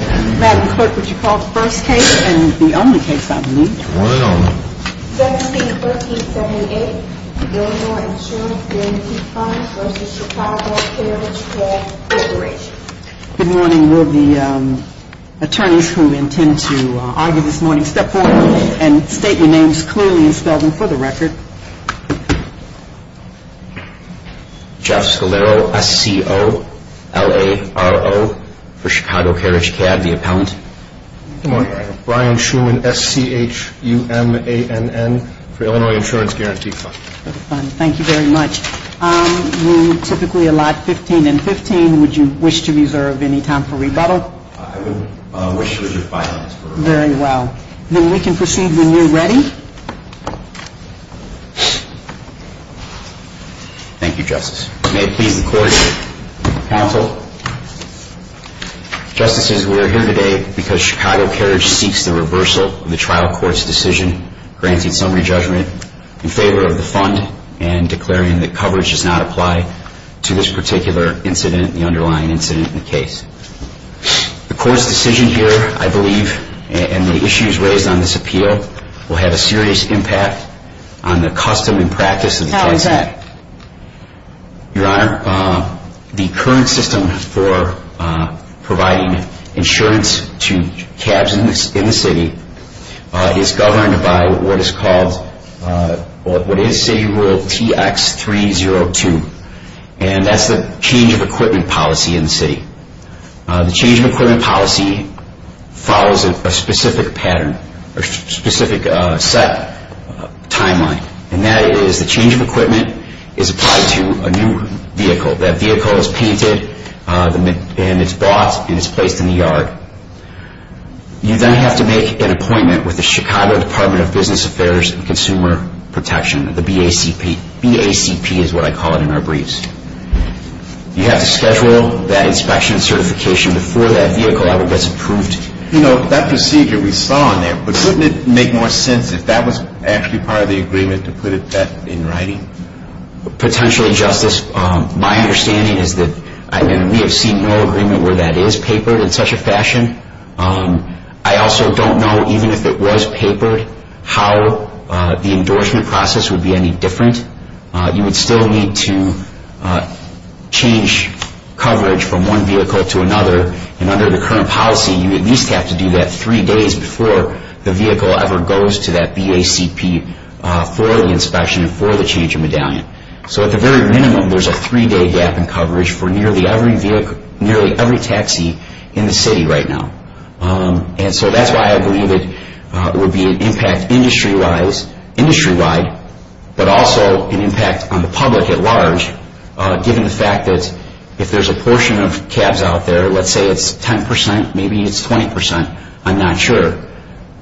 Madam Clerk, would you call the first case and the only case I believe? The one and only. Deputy 1378, Illinois Insurance Guaranty Fund v. Chicago Carriage Cab Corporation. Good morning. Will the attorneys who intend to argue this morning step forward and state your names clearly and spell them for the record. Jeff Scalero, S-C-O-L-A-R-O, for Chicago Carriage Cab, the appellant. Good morning. Brian Schuman, S-C-H-U-M-A-N-N, for Illinois Insurance Guaranty Fund. Thank you very much. You typically allot 15 and 15. Would you wish to reserve any time for rebuttal? I would wish to reserve violence for rebuttal. Very well. Then we can proceed when you're ready. Thank you, Justice. May it please the Court, Counsel. Justices, we are here today because Chicago Carriage seeks the reversal of the trial court's decision granting summary judgment in favor of the fund and declaring that coverage does not apply to this particular incident, the underlying incident in the case. The court's decision here, I believe, and the issues raised on this appeal will have a serious impact on the custom and practice of the case. How is that? Your Honor, the current system for providing insurance to cabs in the city is governed by what is called, what is City Rule TX302, and that's the change of equipment policy in the city. The change of equipment policy follows a specific pattern, a specific set timeline, and that is the change of equipment is applied to a new vehicle. That vehicle is painted and it's bought and it's placed in the yard. You then have to make an appointment with the Chicago Department of Business Affairs and Consumer Protection, the BACP. BACP is what I call it in our briefs. You have to schedule that inspection certification before that vehicle ever gets approved. You know, that procedure we saw in there, but wouldn't it make more sense if that was actually part of the agreement to put that in writing? Potentially, Justice. My understanding is that we have seen no agreement where that is papered in such a fashion. I also don't know, even if it was papered, how the endorsement process would be any different. You would still need to change coverage from one vehicle to another, and under the current policy you at least have to do that three days before the vehicle ever goes to that BACP for the inspection and for the change of medallion. So at the very minimum, there's a three-day gap in coverage for nearly every taxi in the city right now. And so that's why I believe it would be an impact industry-wide, but also an impact on the public at large, given the fact that if there's a portion of cabs out there, let's say it's 10%, maybe it's 20%, I'm not sure.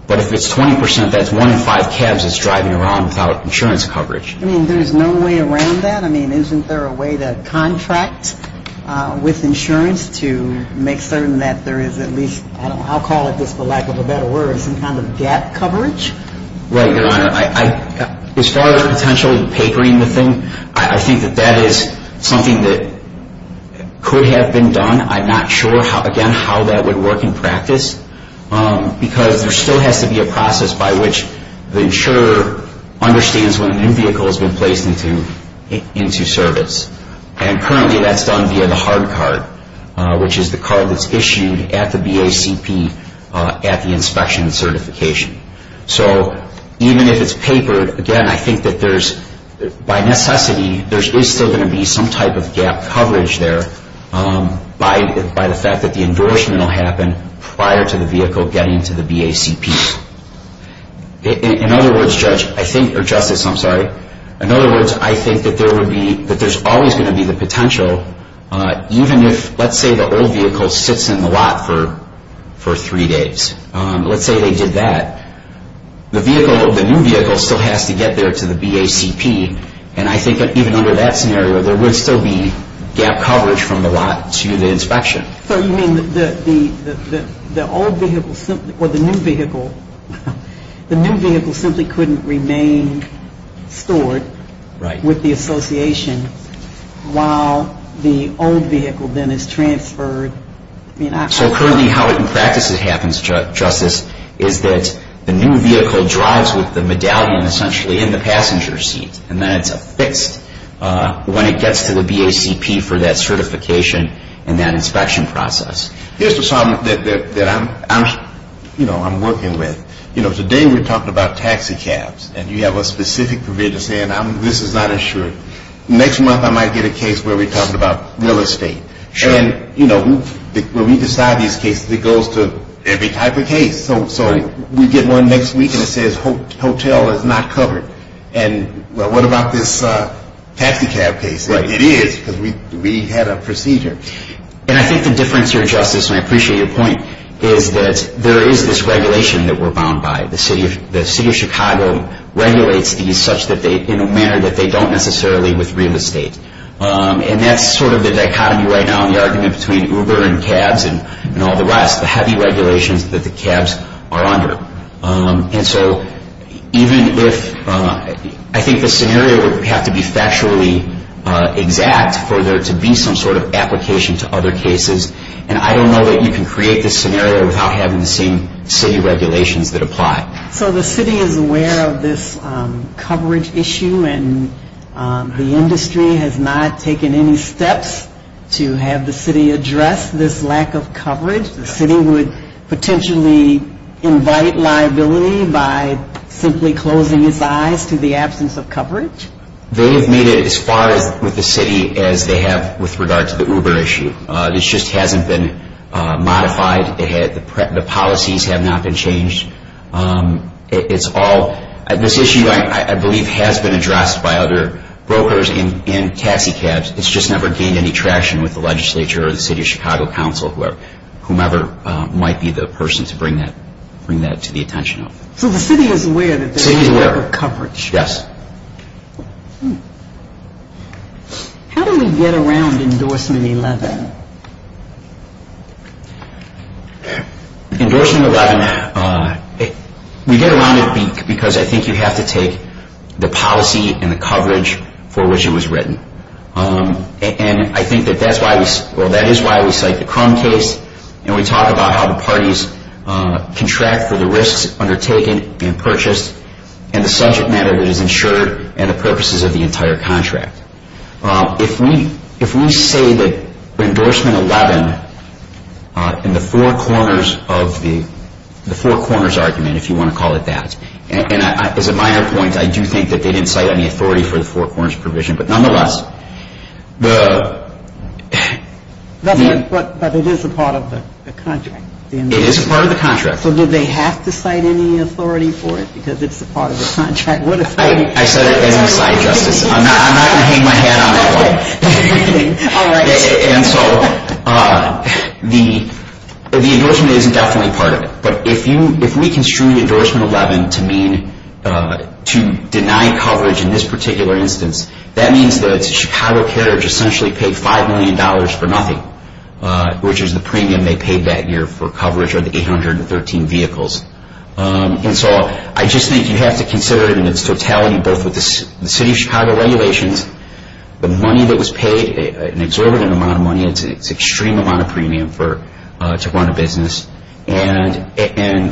But if it's 20%, that's one in five cabs that's driving around without insurance coverage. I mean, there's no way around that? I mean, isn't there a way to contract with insurance to make certain that there is at least, I don't know, I'll call it this for lack of a better word, some kind of gap coverage? Right, Your Honor. As far as potentially papering the thing, I think that that is something that could have been done. I'm not sure, again, how that would work in practice, because there still has to be a process by which the insurer understands when a new vehicle has been placed into service. And currently, that's done via the hard card, which is the card that's issued at the BACP at the inspection certification. So even if it's papered, again, I think that there's, by necessity, there is still going to be some type of gap coverage there by the fact that the endorsement will happen prior to the vehicle getting to the BACP. In other words, Justice, I think that there's always going to be the potential, even if, let's say, the old vehicle sits in the lot for three days. Let's say they did that. The new vehicle still has to get there to the BACP. And I think that even under that scenario, there would still be gap coverage from the lot to the inspection. So you mean that the old vehicle simply, or the new vehicle, the new vehicle simply couldn't remain stored with the association while the old vehicle then is transferred? So currently, how it in practice happens, Justice, is that the new vehicle drives with the medallion essentially in the passenger seat, and then it's affixed when it gets to the BACP for that certification and that inspection process. Here's the problem that I'm working with. Today, we're talking about taxi cabs, and you have a specific provision saying this is not insured. Next month, I might get a case where we're talking about real estate. And, you know, when we decide these cases, it goes to every type of case. So we get one next week, and it says hotel is not covered. And what about this taxi cab case? It is, because we had a procedure. And I think the difference here, Justice, and I appreciate your point, is that there is this regulation that we're bound by. The city of Chicago regulates these in a manner that they don't necessarily with real estate. And that's sort of the dichotomy right now in the argument between Uber and cabs and all the rest, the heavy regulations that the cabs are under. And so even if I think the scenario would have to be factually exact for there to be some sort of application to other cases, and I don't know that you can create this scenario without having the same city regulations that apply. So the city is aware of this coverage issue, and the industry has not taken any steps to have the city address this lack of coverage? The city would potentially invite liability by simply closing its eyes to the absence of coverage? They have made it as far with the city as they have with regard to the Uber issue. This just hasn't been modified. The policies have not been changed. This issue, I believe, has been addressed by other brokers and taxi cabs. It's just never gained any traction with the legislature or the city of Chicago council, whomever might be the person to bring that to the attention of. So the city is aware that there is Uber coverage? Yes. How do we get around Endorsement 11? Endorsement 11, we get around it because I think you have to take the policy and the coverage for which it was written. And I think that that is why we cite the Crum case, and we talk about how the parties contract for the risks undertaken and purchased, and the subject matter that is insured and the purposes of the entire contract. If we say that Endorsement 11 in the four corners of the four corners argument, if you want to call it that, and as a minor point, I do think that they didn't cite any authority for the four corners provision. But nonetheless, the — But it is a part of the contract. It is a part of the contract. So do they have to cite any authority for it because it is a part of the contract? I said it doesn't cite justice. I'm not going to hang my hat on that one. All right. And so the endorsement isn't definitely part of it. But if we construe Endorsement 11 to mean to deny coverage in this particular instance, that means that Chicago Carriage essentially paid $5 million for nothing, which is the premium they paid that year for coverage of the 813 vehicles. And so I just think you have to consider it in its totality, both with the City of Chicago regulations, the money that was paid, an exorbitant amount of money, it's an extreme amount of premium to run a business, and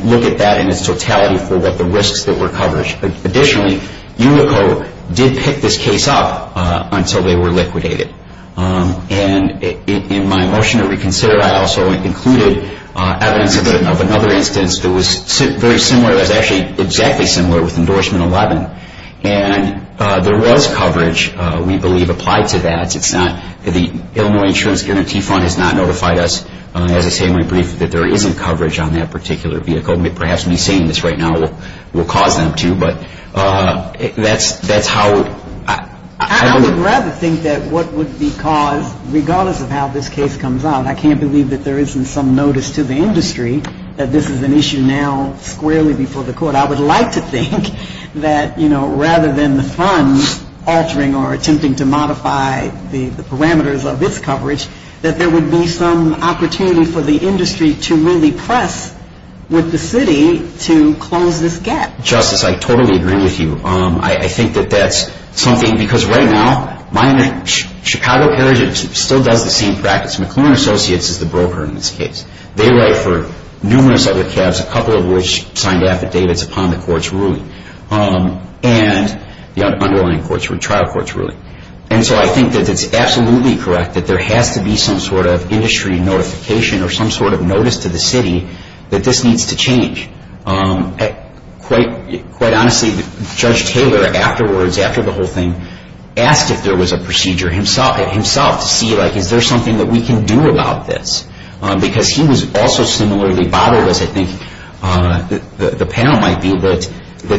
look at that in its totality for what the risks that were covered. Additionally, ULICO did pick this case up until they were liquidated. And in my motion to reconsider, I also included evidence of another instance that was very similar, that was actually exactly similar with Endorsement 11. And there was coverage, we believe, applied to that. The Illinois Insurance Guarantee Fund has not notified us, as I say in my brief, that there isn't coverage on that particular vehicle. Perhaps me saying this right now will cause them to, but that's how I would. I would rather think that what would be caused, regardless of how this case comes out, I can't believe that there isn't some notice to the industry that this is an issue now squarely before the court. I would like to think that, you know, rather than the funds altering or attempting to modify the parameters of its coverage, that there would be some opportunity for the industry to really press with the city to close this gap. Justice, I totally agree with you. I think that that's something, because right now, my Chicago carriage still does the same practice. McLuhan Associates is the broker in this case. They write for numerous other cabs, a couple of which signed affidavits upon the court's ruling, and the underlying trial court's ruling. And so I think that it's absolutely correct that there has to be some sort of industry notification or some sort of notice to the city that this needs to change. Quite honestly, Judge Taylor afterwards, after the whole thing, asked if there was a procedure himself to see, like, is there something that we can do about this? Because he was also similarly bothered, as I think the panel might be, that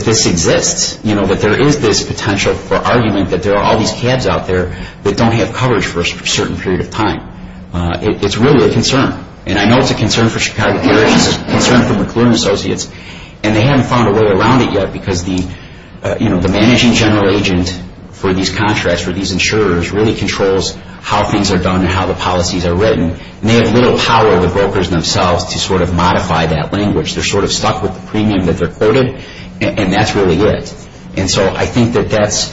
this exists. You know, that there is this potential for argument that there are all these cabs out there that don't have coverage for a certain period of time. It's really a concern. And I know it's a concern for Chicago Carriage. It's a concern for McLuhan Associates. And they haven't found a way around it yet, because the managing general agent for these contracts, for these insurers, really controls how things are done and how the policies are written. And they have little power, the brokers themselves, to sort of modify that language. They're sort of stuck with the premium that they're quoted, and that's really it. And so I think that that's,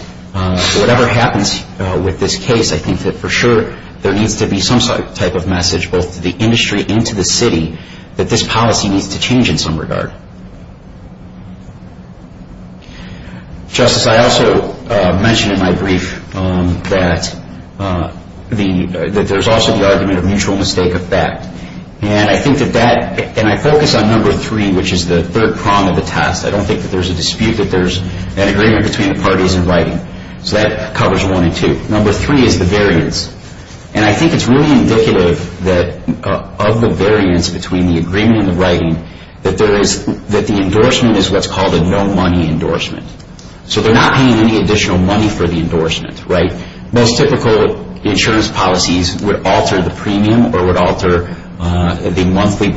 whatever happens with this case, I think that for sure there needs to be some type of message, both to the industry and to the city, that this policy needs to change in some regard. Justice, I also mentioned in my brief that there's also the argument of mutual mistake effect. And I think that that, and I focus on number three, which is the third prong of the test. I don't think that there's a dispute that there's an agreement between the parties in writing. So that covers one and two. Number three is the variance. And I think it's really indicative of the variance between the agreement and the writing that the endorsement is what's called a no-money endorsement. So they're not paying any additional money for the endorsement, right? Most typical insurance policies would alter the premium or would alter the monthly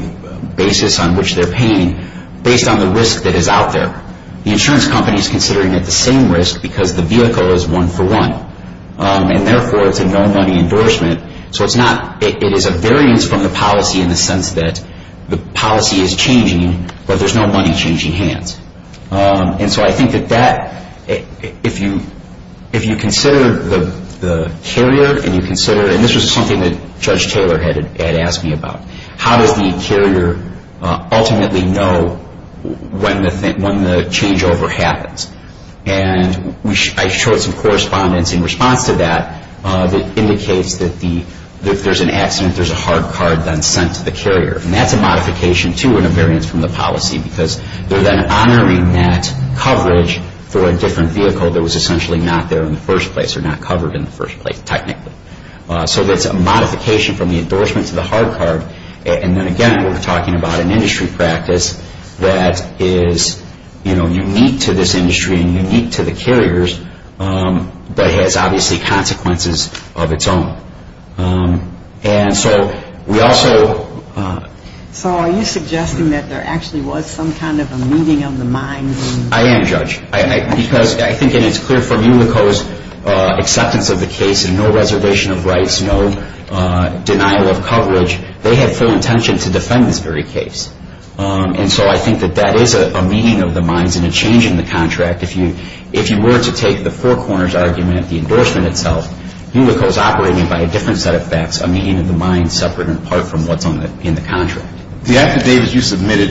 basis on which they're paying based on the risk that is out there. The insurance company is considering it the same risk because the vehicle is one-for-one. And therefore, it's a no-money endorsement. So it's not, it is a variance from the policy in the sense that the policy is changing, but there's no money changing hands. And so I think that that, if you consider the carrier and you consider, and this was something that Judge Taylor had asked me about, how does the carrier ultimately know when the changeover happens? And I showed some correspondence in response to that that indicates that if there's an accident, there's a hard card then sent to the carrier. And that's a modification, too, and a variance from the policy because they're then honoring that coverage for a different vehicle that was essentially not there in the first place or not covered in the first place, technically. So that's a modification from the endorsement to the hard card. And then again, we're talking about an industry practice that is, you know, unique to this industry and unique to the carriers, but has obviously consequences of its own. And so we also... So are you suggesting that there actually was some kind of a meeting of the minds? I am, Judge. Because I think it is clear from ULICO's acceptance of the case, and no reservation of rights, no denial of coverage, they had full intention to defend this very case. And so I think that that is a meeting of the minds and a change in the contract. If you were to take the Four Corners argument, the endorsement itself, ULICO's operating by a different set of facts, a meeting of the minds, separate and apart from what's in the contract. The affidavit you submitted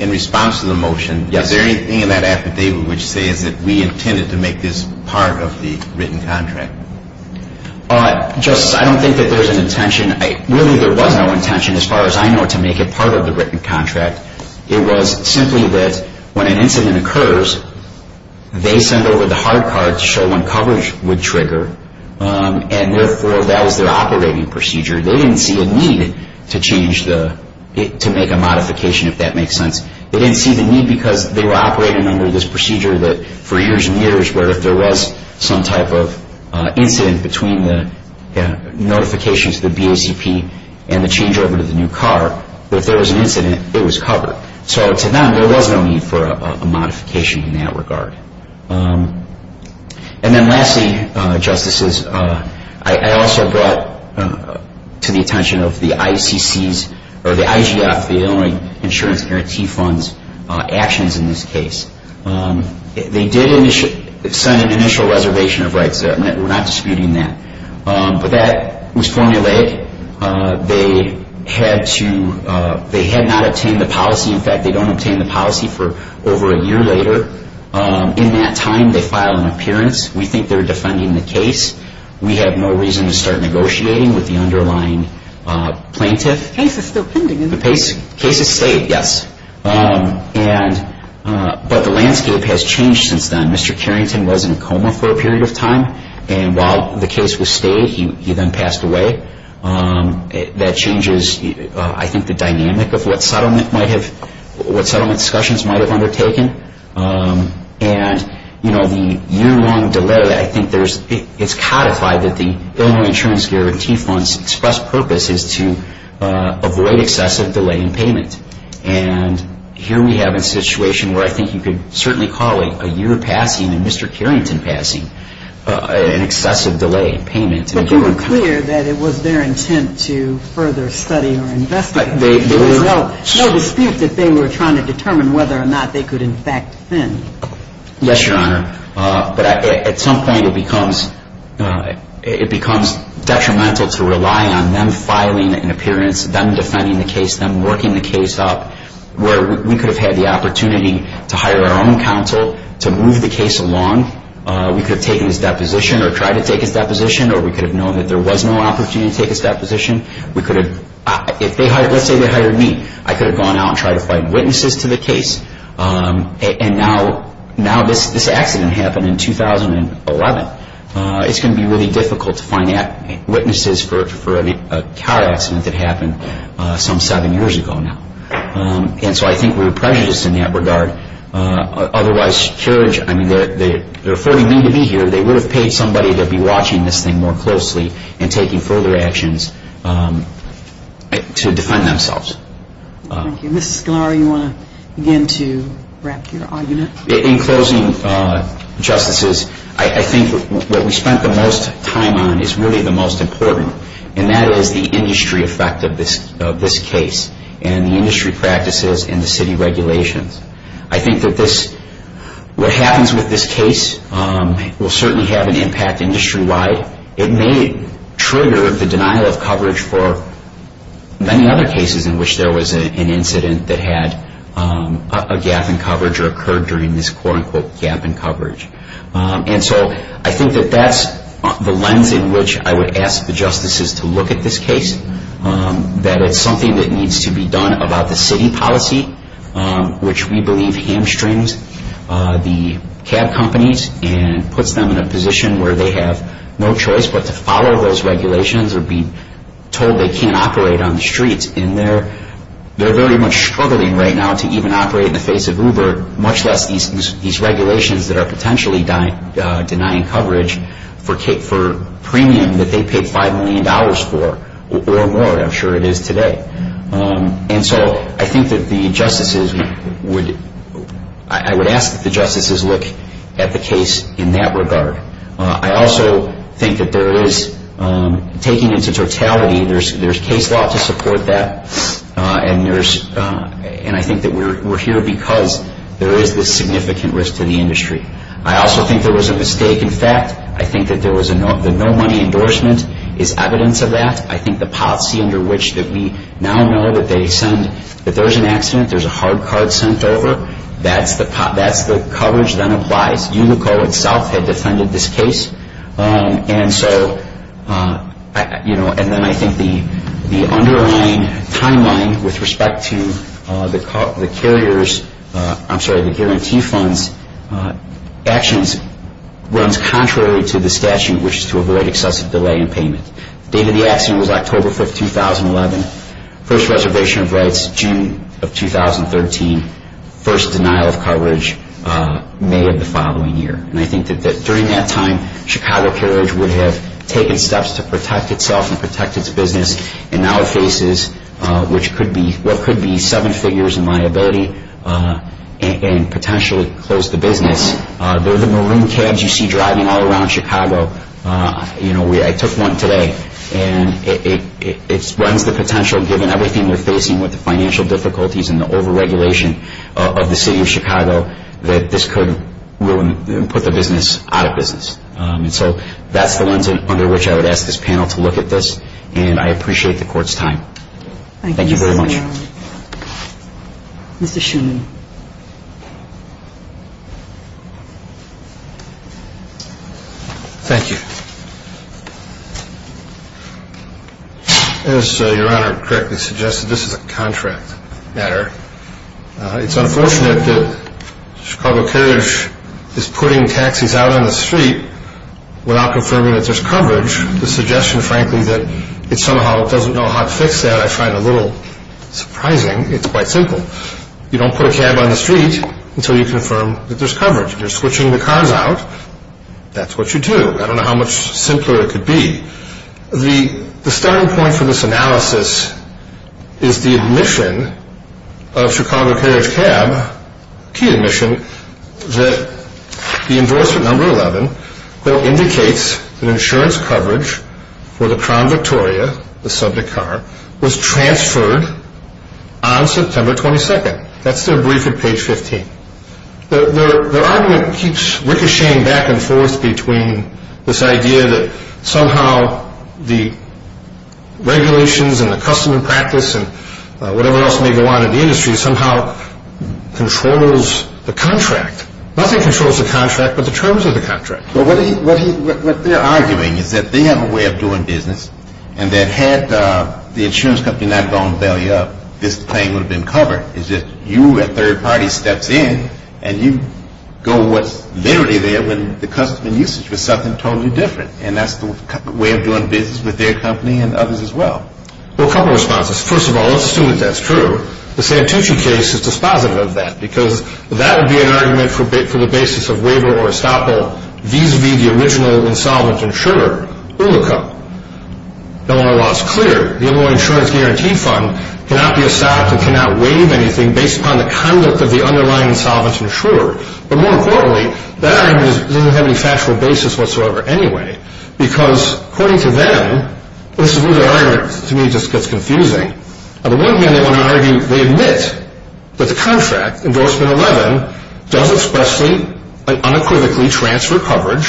in response to the motion, is there anything in that affidavit which says that we intended to make this part of the written contract? Justice, I don't think that there's an intention. Really, there was no intention, as far as I know, to make it part of the written contract. It was simply that when an incident occurs, they send over the hard card to show when coverage would trigger. And therefore, that was their operating procedure. They didn't see a need to change the...to make a modification, if that makes sense. They didn't see the need because they were operating under this procedure for years and years, where if there was some type of incident between the notification to the BACP and the changeover to the new car, if there was an incident, it was covered. So to them, there was no need for a modification in that regard. And then lastly, Justices, I also brought to the attention of the ICC's, or the IGF, the Illinois Insurance Guarantee Fund's actions in this case. They did send an initial reservation of rights there. We're not disputing that. But that was formulated. They had to...they had not obtained the policy. In fact, they don't obtain the policy for over a year later. In that time, they file an appearance. We think they're defending the case. We have no reason to start negotiating with the underlying plaintiff. The case is still pending, isn't it? The case is stayed, yes. But the landscape has changed since then. Mr. Carrington was in a coma for a period of time. And while the case was stayed, he then passed away. That changes, I think, the dynamic of what settlement might have...what settlement discussions might have undertaken. And, you know, the year-long delay, I think there's... that the Illinois Insurance Guarantee Fund's express purpose is to avoid excessive delay in payment. And here we have a situation where I think you could certainly call it a year of passing and Mr. Carrington passing an excessive delay in payment. But they were clear that it was their intent to further study or investigate. There was no dispute that they were trying to determine whether or not they could in fact fend. Yes, Your Honor. But at some point it becomes detrimental to rely on them filing an appearance, them defending the case, them working the case up, where we could have had the opportunity to hire our own counsel to move the case along. We could have taken his deposition or tried to take his deposition or we could have known that there was no opportunity to take his deposition. We could have...if they hired...let's say they hired me. I could have gone out and tried to find witnesses to the case. And now this accident happened in 2011. It's going to be really difficult to find witnesses for a car accident that happened some seven years ago now. And so I think we're prejudiced in that regard. Otherwise, they're affording me to be here. They would have paid somebody to be watching this thing more closely and taking further actions to defend themselves. Thank you. Mr. Sklar, you want to begin to wrap your argument? In closing, Justices, I think what we spent the most time on is really the most important, and that is the industry effect of this case and the industry practices and the city regulations. I think that this...what happens with this case will certainly have an impact industry-wide. It may trigger the denial of coverage for many other cases in which there was an incident that had a gap in coverage or occurred during this quote-unquote gap in coverage. And so I think that that's the lens in which I would ask the Justices to look at this case, that it's something that needs to be done about the city policy, which we believe hamstrings the cab companies and puts them in a position where they have no choice but to follow those regulations or be told they can't operate on the streets. And they're very much struggling right now to even operate in the face of Uber, much less these regulations that are potentially denying coverage for premium that they paid $5 million for or more. I'm sure it is today. And so I think that the Justices would...I would ask that the Justices look at the case in that regard. I also think that there is, taking into totality, there's case law to support that, and I think that we're here because there is this significant risk to the industry. I also think there was a mistake in fact. I think that the no-money endorsement is evidence of that. I think the policy under which that we now know that they send...that there's an accident, there's a hard card sent over, that's the coverage that applies. Unico itself had defended this case. And so, you know, and then I think the underlying timeline with respect to the carriers... I'm sorry, the guarantee funds actions runs contrary to the statute, which is to avoid excessive delay in payment. The date of the accident was October 5, 2011. First reservation of rights, June of 2013. First denial of coverage, May of the following year. And I think that during that time, Chicago Carriage would have taken steps to protect itself and protect its business, and now it faces what could be seven figures in liability and potentially close the business. They're the marine cabs you see driving all around Chicago. You know, I took one today, and it runs the potential, given everything we're facing with the financial difficulties and the over-regulation of the city of Chicago, that this could ruin and put the business out of business. And so that's the lens under which I would ask this panel to look at this, and I appreciate the court's time. Thank you very much. Thank you, sir. Mr. Shuman. Mr. Shuman. Thank you. As Your Honor correctly suggested, this is a contract matter. It's unfortunate that Chicago Carriage is putting taxis out on the street without confirming that there's coverage. The suggestion, frankly, that it somehow doesn't know how to fix that I find a little surprising. It's quite simple. You don't put a cab on the street until you confirm that there's coverage. If you're switching the cars out, that's what you do. I don't know how much simpler it could be. The starting point for this analysis is the admission of Chicago Carriage Cab, key admission, that the endorsement number 11, which indicates that insurance coverage for the Crown Victoria, the subject car, was transferred on September 22nd. That's their brief at page 15. Their argument keeps ricocheting back and forth between this idea that somehow the regulations and the customer practice and whatever else may go on in the industry somehow controls the contract. Nothing controls the contract but the terms of the contract. What they're arguing is that they have a way of doing business and that had the insurance company not gone belly up, this claim would have been covered. It's just you, a third party, steps in and you go what's literally there when the customer usage was something totally different. And that's the way of doing business with their company and others as well. Well, a couple of responses. First of all, let's assume that that's true. The Santucci case is dispositive of that because that would be an argument for the basis of waiver or estoppel vis-a-vis the original insolvent insurer, Ulica. The Illinois law is clear. The Illinois Insurance Guarantee Fund cannot be estopped and cannot waive anything based upon the conduct of the underlying insolvent insurer. But more importantly, that argument doesn't have any factual basis whatsoever anyway because according to them, this is where the argument to me just gets confusing. On the one hand, they want to argue, they admit that the contract, Endorsement 11, does expressly and unequivocally transfer coverage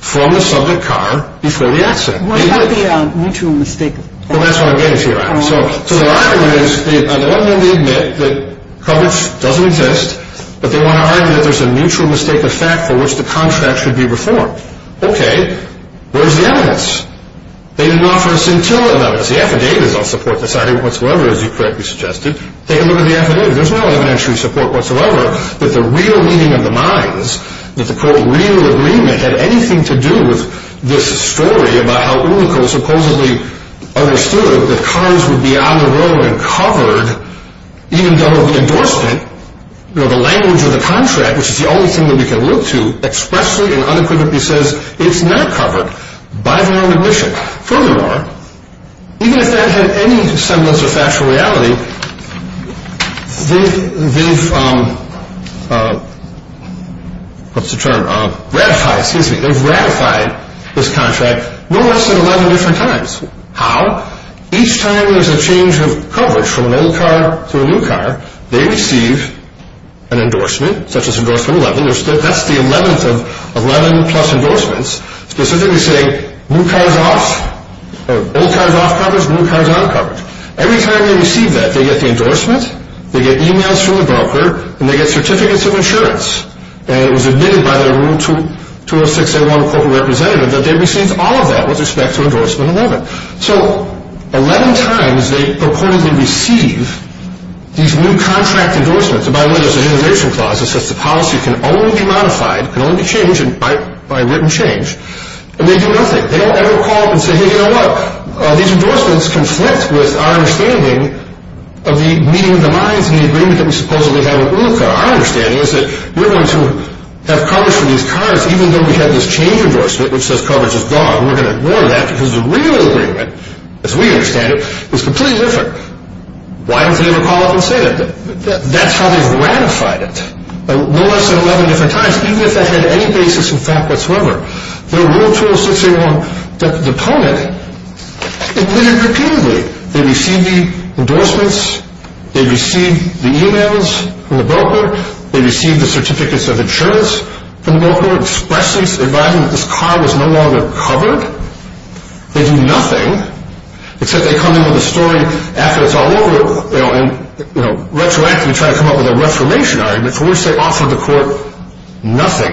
from the subject car before the accident. What about the mutual mistake? That's what I'm getting to you on. So the argument is, on the one hand, they admit that coverage doesn't exist but they want to argue that there's a mutual mistake of fact for which the contract should be reformed. Okay, where's the evidence? They didn't offer us until the evidence. The affidavits don't support this argument whatsoever, as you correctly suggested. Take a look at the affidavit. There's no evidentiary support whatsoever that the real meaning of the mines, that the quote, real agreement, had anything to do with this story about how Ulica supposedly understood that cars would be on the road and covered even though the endorsement, you know, the language of the contract, which is the only thing that we can look to, expressly and unequivocally says, it's not covered by Vernon McBishop. Furthermore, even if that had any semblance of factual reality, they've, what's the term, ratified, excuse me, they've ratified this contract no less than 11 different times. How? Each time there's a change of coverage from an old car to a new car, they receive an endorsement, such as endorsement 11, that's the 11th of 11 plus endorsements, specifically saying new cars off, old cars off coverage, new cars on coverage. Every time they receive that, they get the endorsement, they get emails from the broker, and they get certificates of insurance. And it was admitted by the room 206A1 corporate representative that they received all of that with respect to endorsement 11. So 11 times they purportedly receive these new contract endorsements. By the way, there's an innovation clause that says the policy can only be modified, can only be changed by written change. And they do nothing. They don't ever call up and say, hey, you know what? These endorsements conflict with our understanding of the meeting of the minds and the agreement that we supposedly have with an old car. Our understanding is that we're going to have coverage for these cars even though we have this change endorsement which says coverage is gone. We're going to ignore that because the real agreement, as we understand it, is completely different. Why don't they ever call up and say that? That's how they've ratified it. No less than 11 different times, even if that had any basis in fact whatsoever. The room 206A1 deponent admitted repeatedly they received the endorsements, they received the emails from the broker, they received the certificates of insurance from the broker, expressly advising that this car was no longer covered. They do nothing except they come in with a story after it's all over, and retroactively try to come up with a reformation argument for which they offer the court nothing.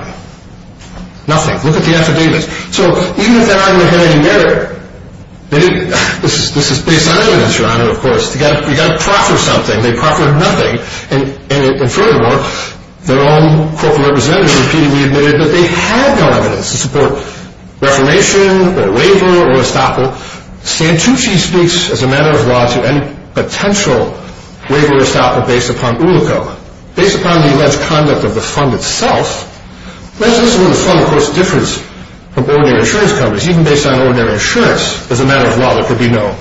Nothing. Look at the affidavits. So even if that argument had any merit, this is based on evidence, Your Honor, of course, they've got to proffer something. They proffered nothing. And furthermore, their own corporate representative repeatedly admitted that they had no evidence to support reformation or waiver or estoppel. Now, Santucci speaks, as a matter of law, to any potential waiver or estoppel based upon ULICO. Based upon the alleged conduct of the fund itself, this is where the fund, of course, differs from ordinary insurance companies. Even based on ordinary insurance, as a matter of law, there could be no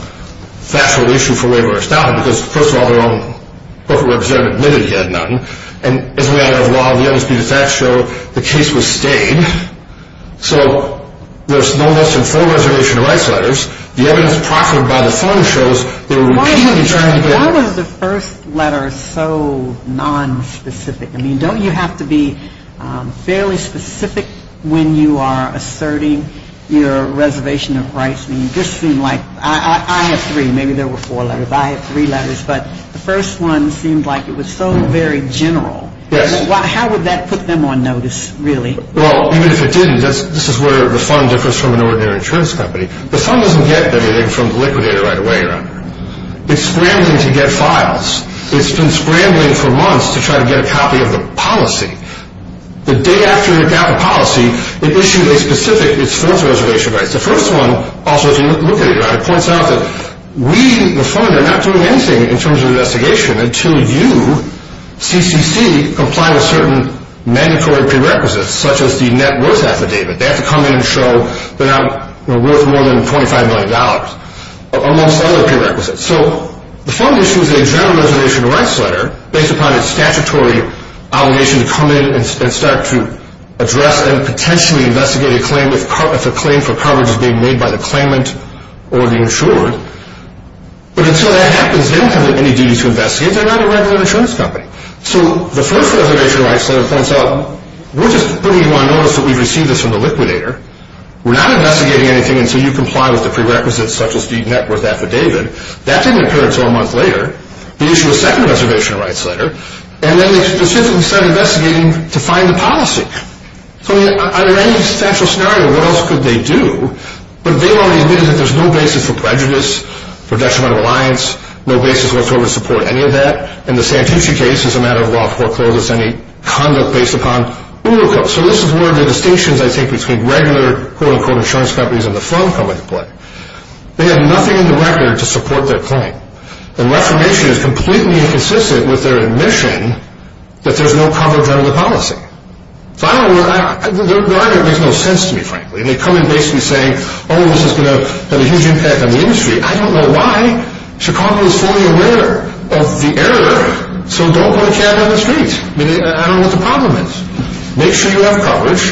factual issue for waiver or estoppel because, first of all, their own corporate representative admitted he had none, and as a matter of law, the undisputed facts show the case was stayed. So there's no mention of full reservation of rights letters. The evidence proffered by the fund shows they were repeatedly trying to get... Why was the first letter so nonspecific? I mean, don't you have to be fairly specific when you are asserting your reservation of rights? I mean, this seemed like... I have three. Maybe there were four letters. I have three letters. But the first one seemed like it was so very general. Yes. How would that put them on notice, really? Well, even if it didn't, this is where the fund differs from an ordinary insurance company. The fund doesn't get anything from the liquidator right away, right? It's scrambling to get files. It's been scrambling for months to try to get a copy of the policy. The day after it got the policy, it issued a specific, its fourth reservation of rights. The first one, also, if you look at it, right, it points out that we, the fund, are not doing anything in terms of investigation until you, CCC, comply with certain mandatory prerequisites, such as the net worth affidavit. They have to come in and show they're worth more than $25 million, or most other prerequisites. So the fund issues a general reservation of rights letter based upon its statutory obligation to come in and start to address and potentially investigate a claim But until that happens, they don't have any duty to investigate. They're not a regular insurance company. So the first reservation of rights letter points out, we're just putting you on notice that we've received this from the liquidator. We're not investigating anything until you comply with the prerequisites, such as the net worth affidavit. That didn't occur until a month later. They issue a second reservation of rights letter, and then they specifically start investigating to find the policy. So under any substantial scenario, what else could they do? But they've already admitted that there's no basis for prejudice, for detrimental reliance, no basis whatsoever to support any of that. In the Santucci case, it's a matter of law of foreclosures, any conduct based upon Uruco. So this is one of the distinctions I take between regular, quote-unquote, insurance companies and the fund coming into play. They have nothing in the record to support their claim. And Reformation is completely inconsistent with their admission that there's no coverage under the policy. So I don't know, their argument makes no sense to me, frankly. They come in basically saying, oh, this is going to have a huge impact on the industry. I don't know why. Chicago is fully aware of the error, so don't put a can on the street. I don't know what the problem is. Make sure you have coverage,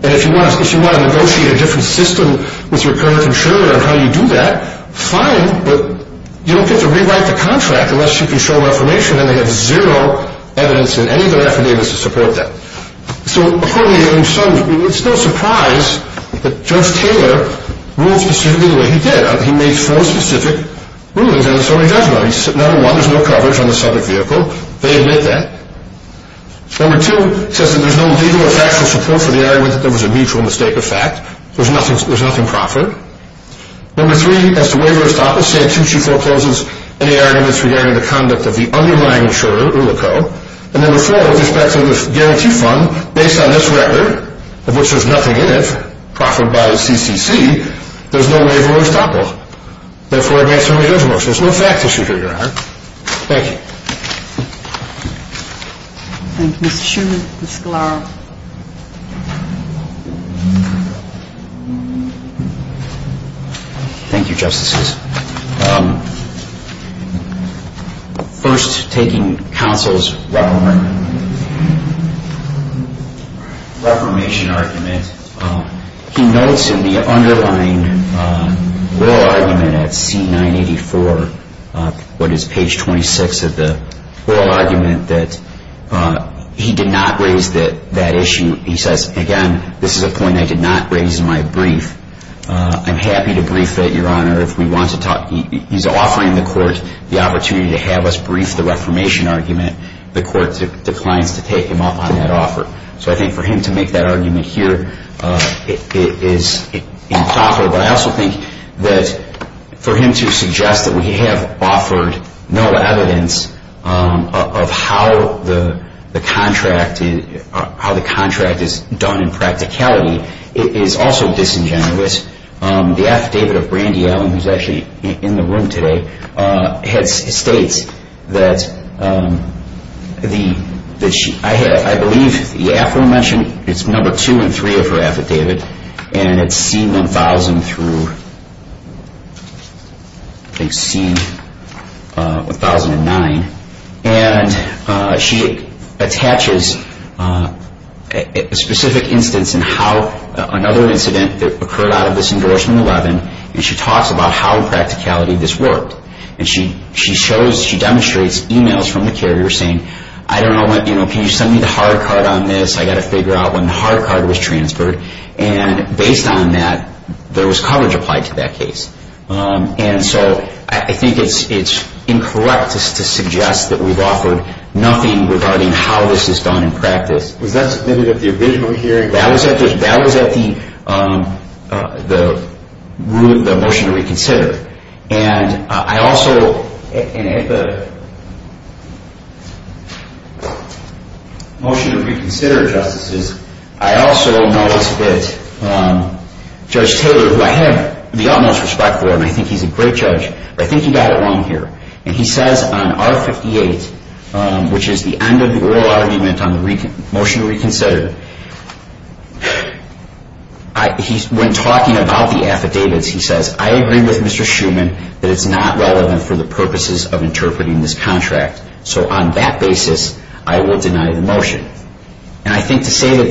and if you want to negotiate a different system with your current insurer on how you do that, fine, but you don't get to rewrite the contract unless you can show Reformation, and they have zero evidence in any of their affidavits to support that. So it's no surprise that Judge Taylor ruled specifically the way he did. He made four specific rulings in the Sotomayor judgment. Number one, there's no coverage on the subject vehicle. They admit that. Number two, it says that there's no legal or factual support for the argument that there was a mutual mistake of fact. There's nothing proper. Number three, as to waiver or stop, the statute forecloses any arguments regarding the conduct of the underlying insurer, and number four, with respect to the guarantee fund, based on this record, of which there's nothing in it, proffered by the CCC, there's no waiver or stop law. Therefore, it makes no difference. There's no fact issue here, Your Honor. Thank you. Thank you, Mr. Schumer. Mr. Scalaro. Thank you, Justices. First, taking counsel's reformation argument, he notes in the underlying oral argument at C984, what is page 26 of the oral argument, that he did not raise that issue. He says, again, this is a point I did not raise in my brief. I'm happy to brief it, Your Honor, if we want to talk. He's offering the court the opportunity to have us brief the reformation argument. The court declines to take him up on that offer. So I think for him to make that argument here is improper. But I also think that for him to suggest that we have offered no evidence of how the contract is done in practicality, is also disingenuous. The affidavit of Brandy Allen, who's actually in the room today, states that I believe the aforementioned, it's number two and three of her affidavit, and it's C1000 through C1009. And she attaches a specific instance in how another incident occurred out of this endorsement 11, and she talks about how in practicality this worked. And she demonstrates emails from the carrier saying, I don't know, can you send me the hard card on this? I've got to figure out when the hard card was transferred. And based on that, there was coverage applied to that case. And so I think it's incorrect to suggest that we've offered nothing regarding how this is done in practice. Was that submitted at the original hearing? That was at the motion to reconsider. And I also, at the motion to reconsider, Justices, I also noticed that Judge Taylor, who I have the utmost respect for, and I think he's a great judge, but I think he got it wrong here. And he says on R58, which is the end of the oral argument on the motion to reconsider, when talking about the affidavits, he says, I agree with Mr. Schuman that it's not relevant for the purposes of interpreting this contract. So on that basis, I will deny the motion. And I think to say that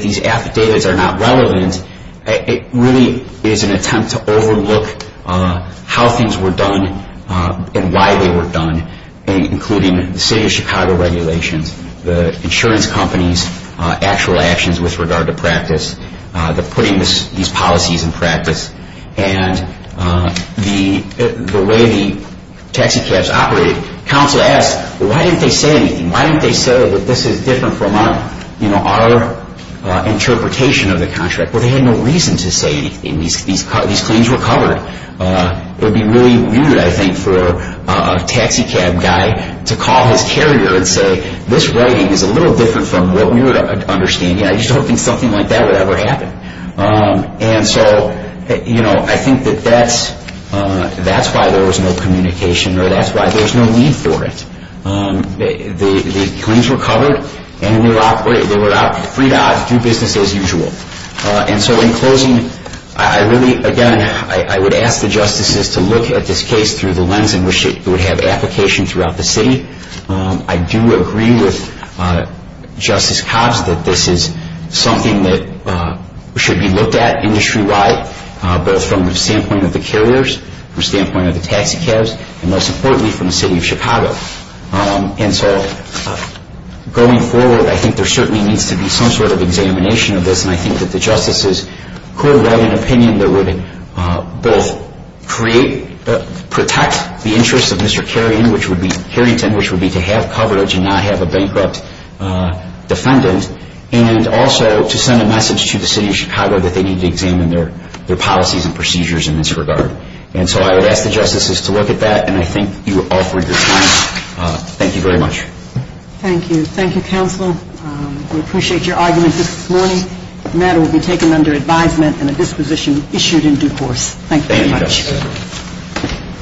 these affidavits are not relevant, it really is an attempt to overlook how things were done and why they were done, including the City of Chicago regulations, the insurance companies' actual actions with regard to practice, the putting these policies in practice, and the way the taxicabs operated. Counsel asked, why didn't they say anything? Why didn't they say that this is different from our interpretation of the contract? Well, they had no reason to say anything. These claims were covered. It would be really rude, I think, for a taxicab guy to call his carrier and say, this writing is a little different from what we were understanding. I just don't think something like that would ever happen. And so I think that that's why there was no communication or that's why there's no need for it. The claims were covered and they were free to do business as usual. And so in closing, I really, again, I would ask the justices to look at this case through the lens in which it would have application throughout the city. I do agree with Justice Cobbs that this is something that should be looked at industry-wide, both from the standpoint of the carriers, from the standpoint of the taxicabs, and most importantly, from the city of Chicago. And so going forward, I think there certainly needs to be some sort of examination of this, and I think that the justices could write an opinion that would both protect the interests of Mr. Carrington, which would be to have coverage and not have a bankrupt defendant, and also to send a message to the city of Chicago that they need to examine their policies and procedures in this regard. And so I would ask the justices to look at that, and I think you offered your time. Thank you very much. Thank you. Thank you, Counsel. We appreciate your argument this morning. The matter will be taken under advisement and a disposition issued in due course. Thank you very much. Thank you, Justice.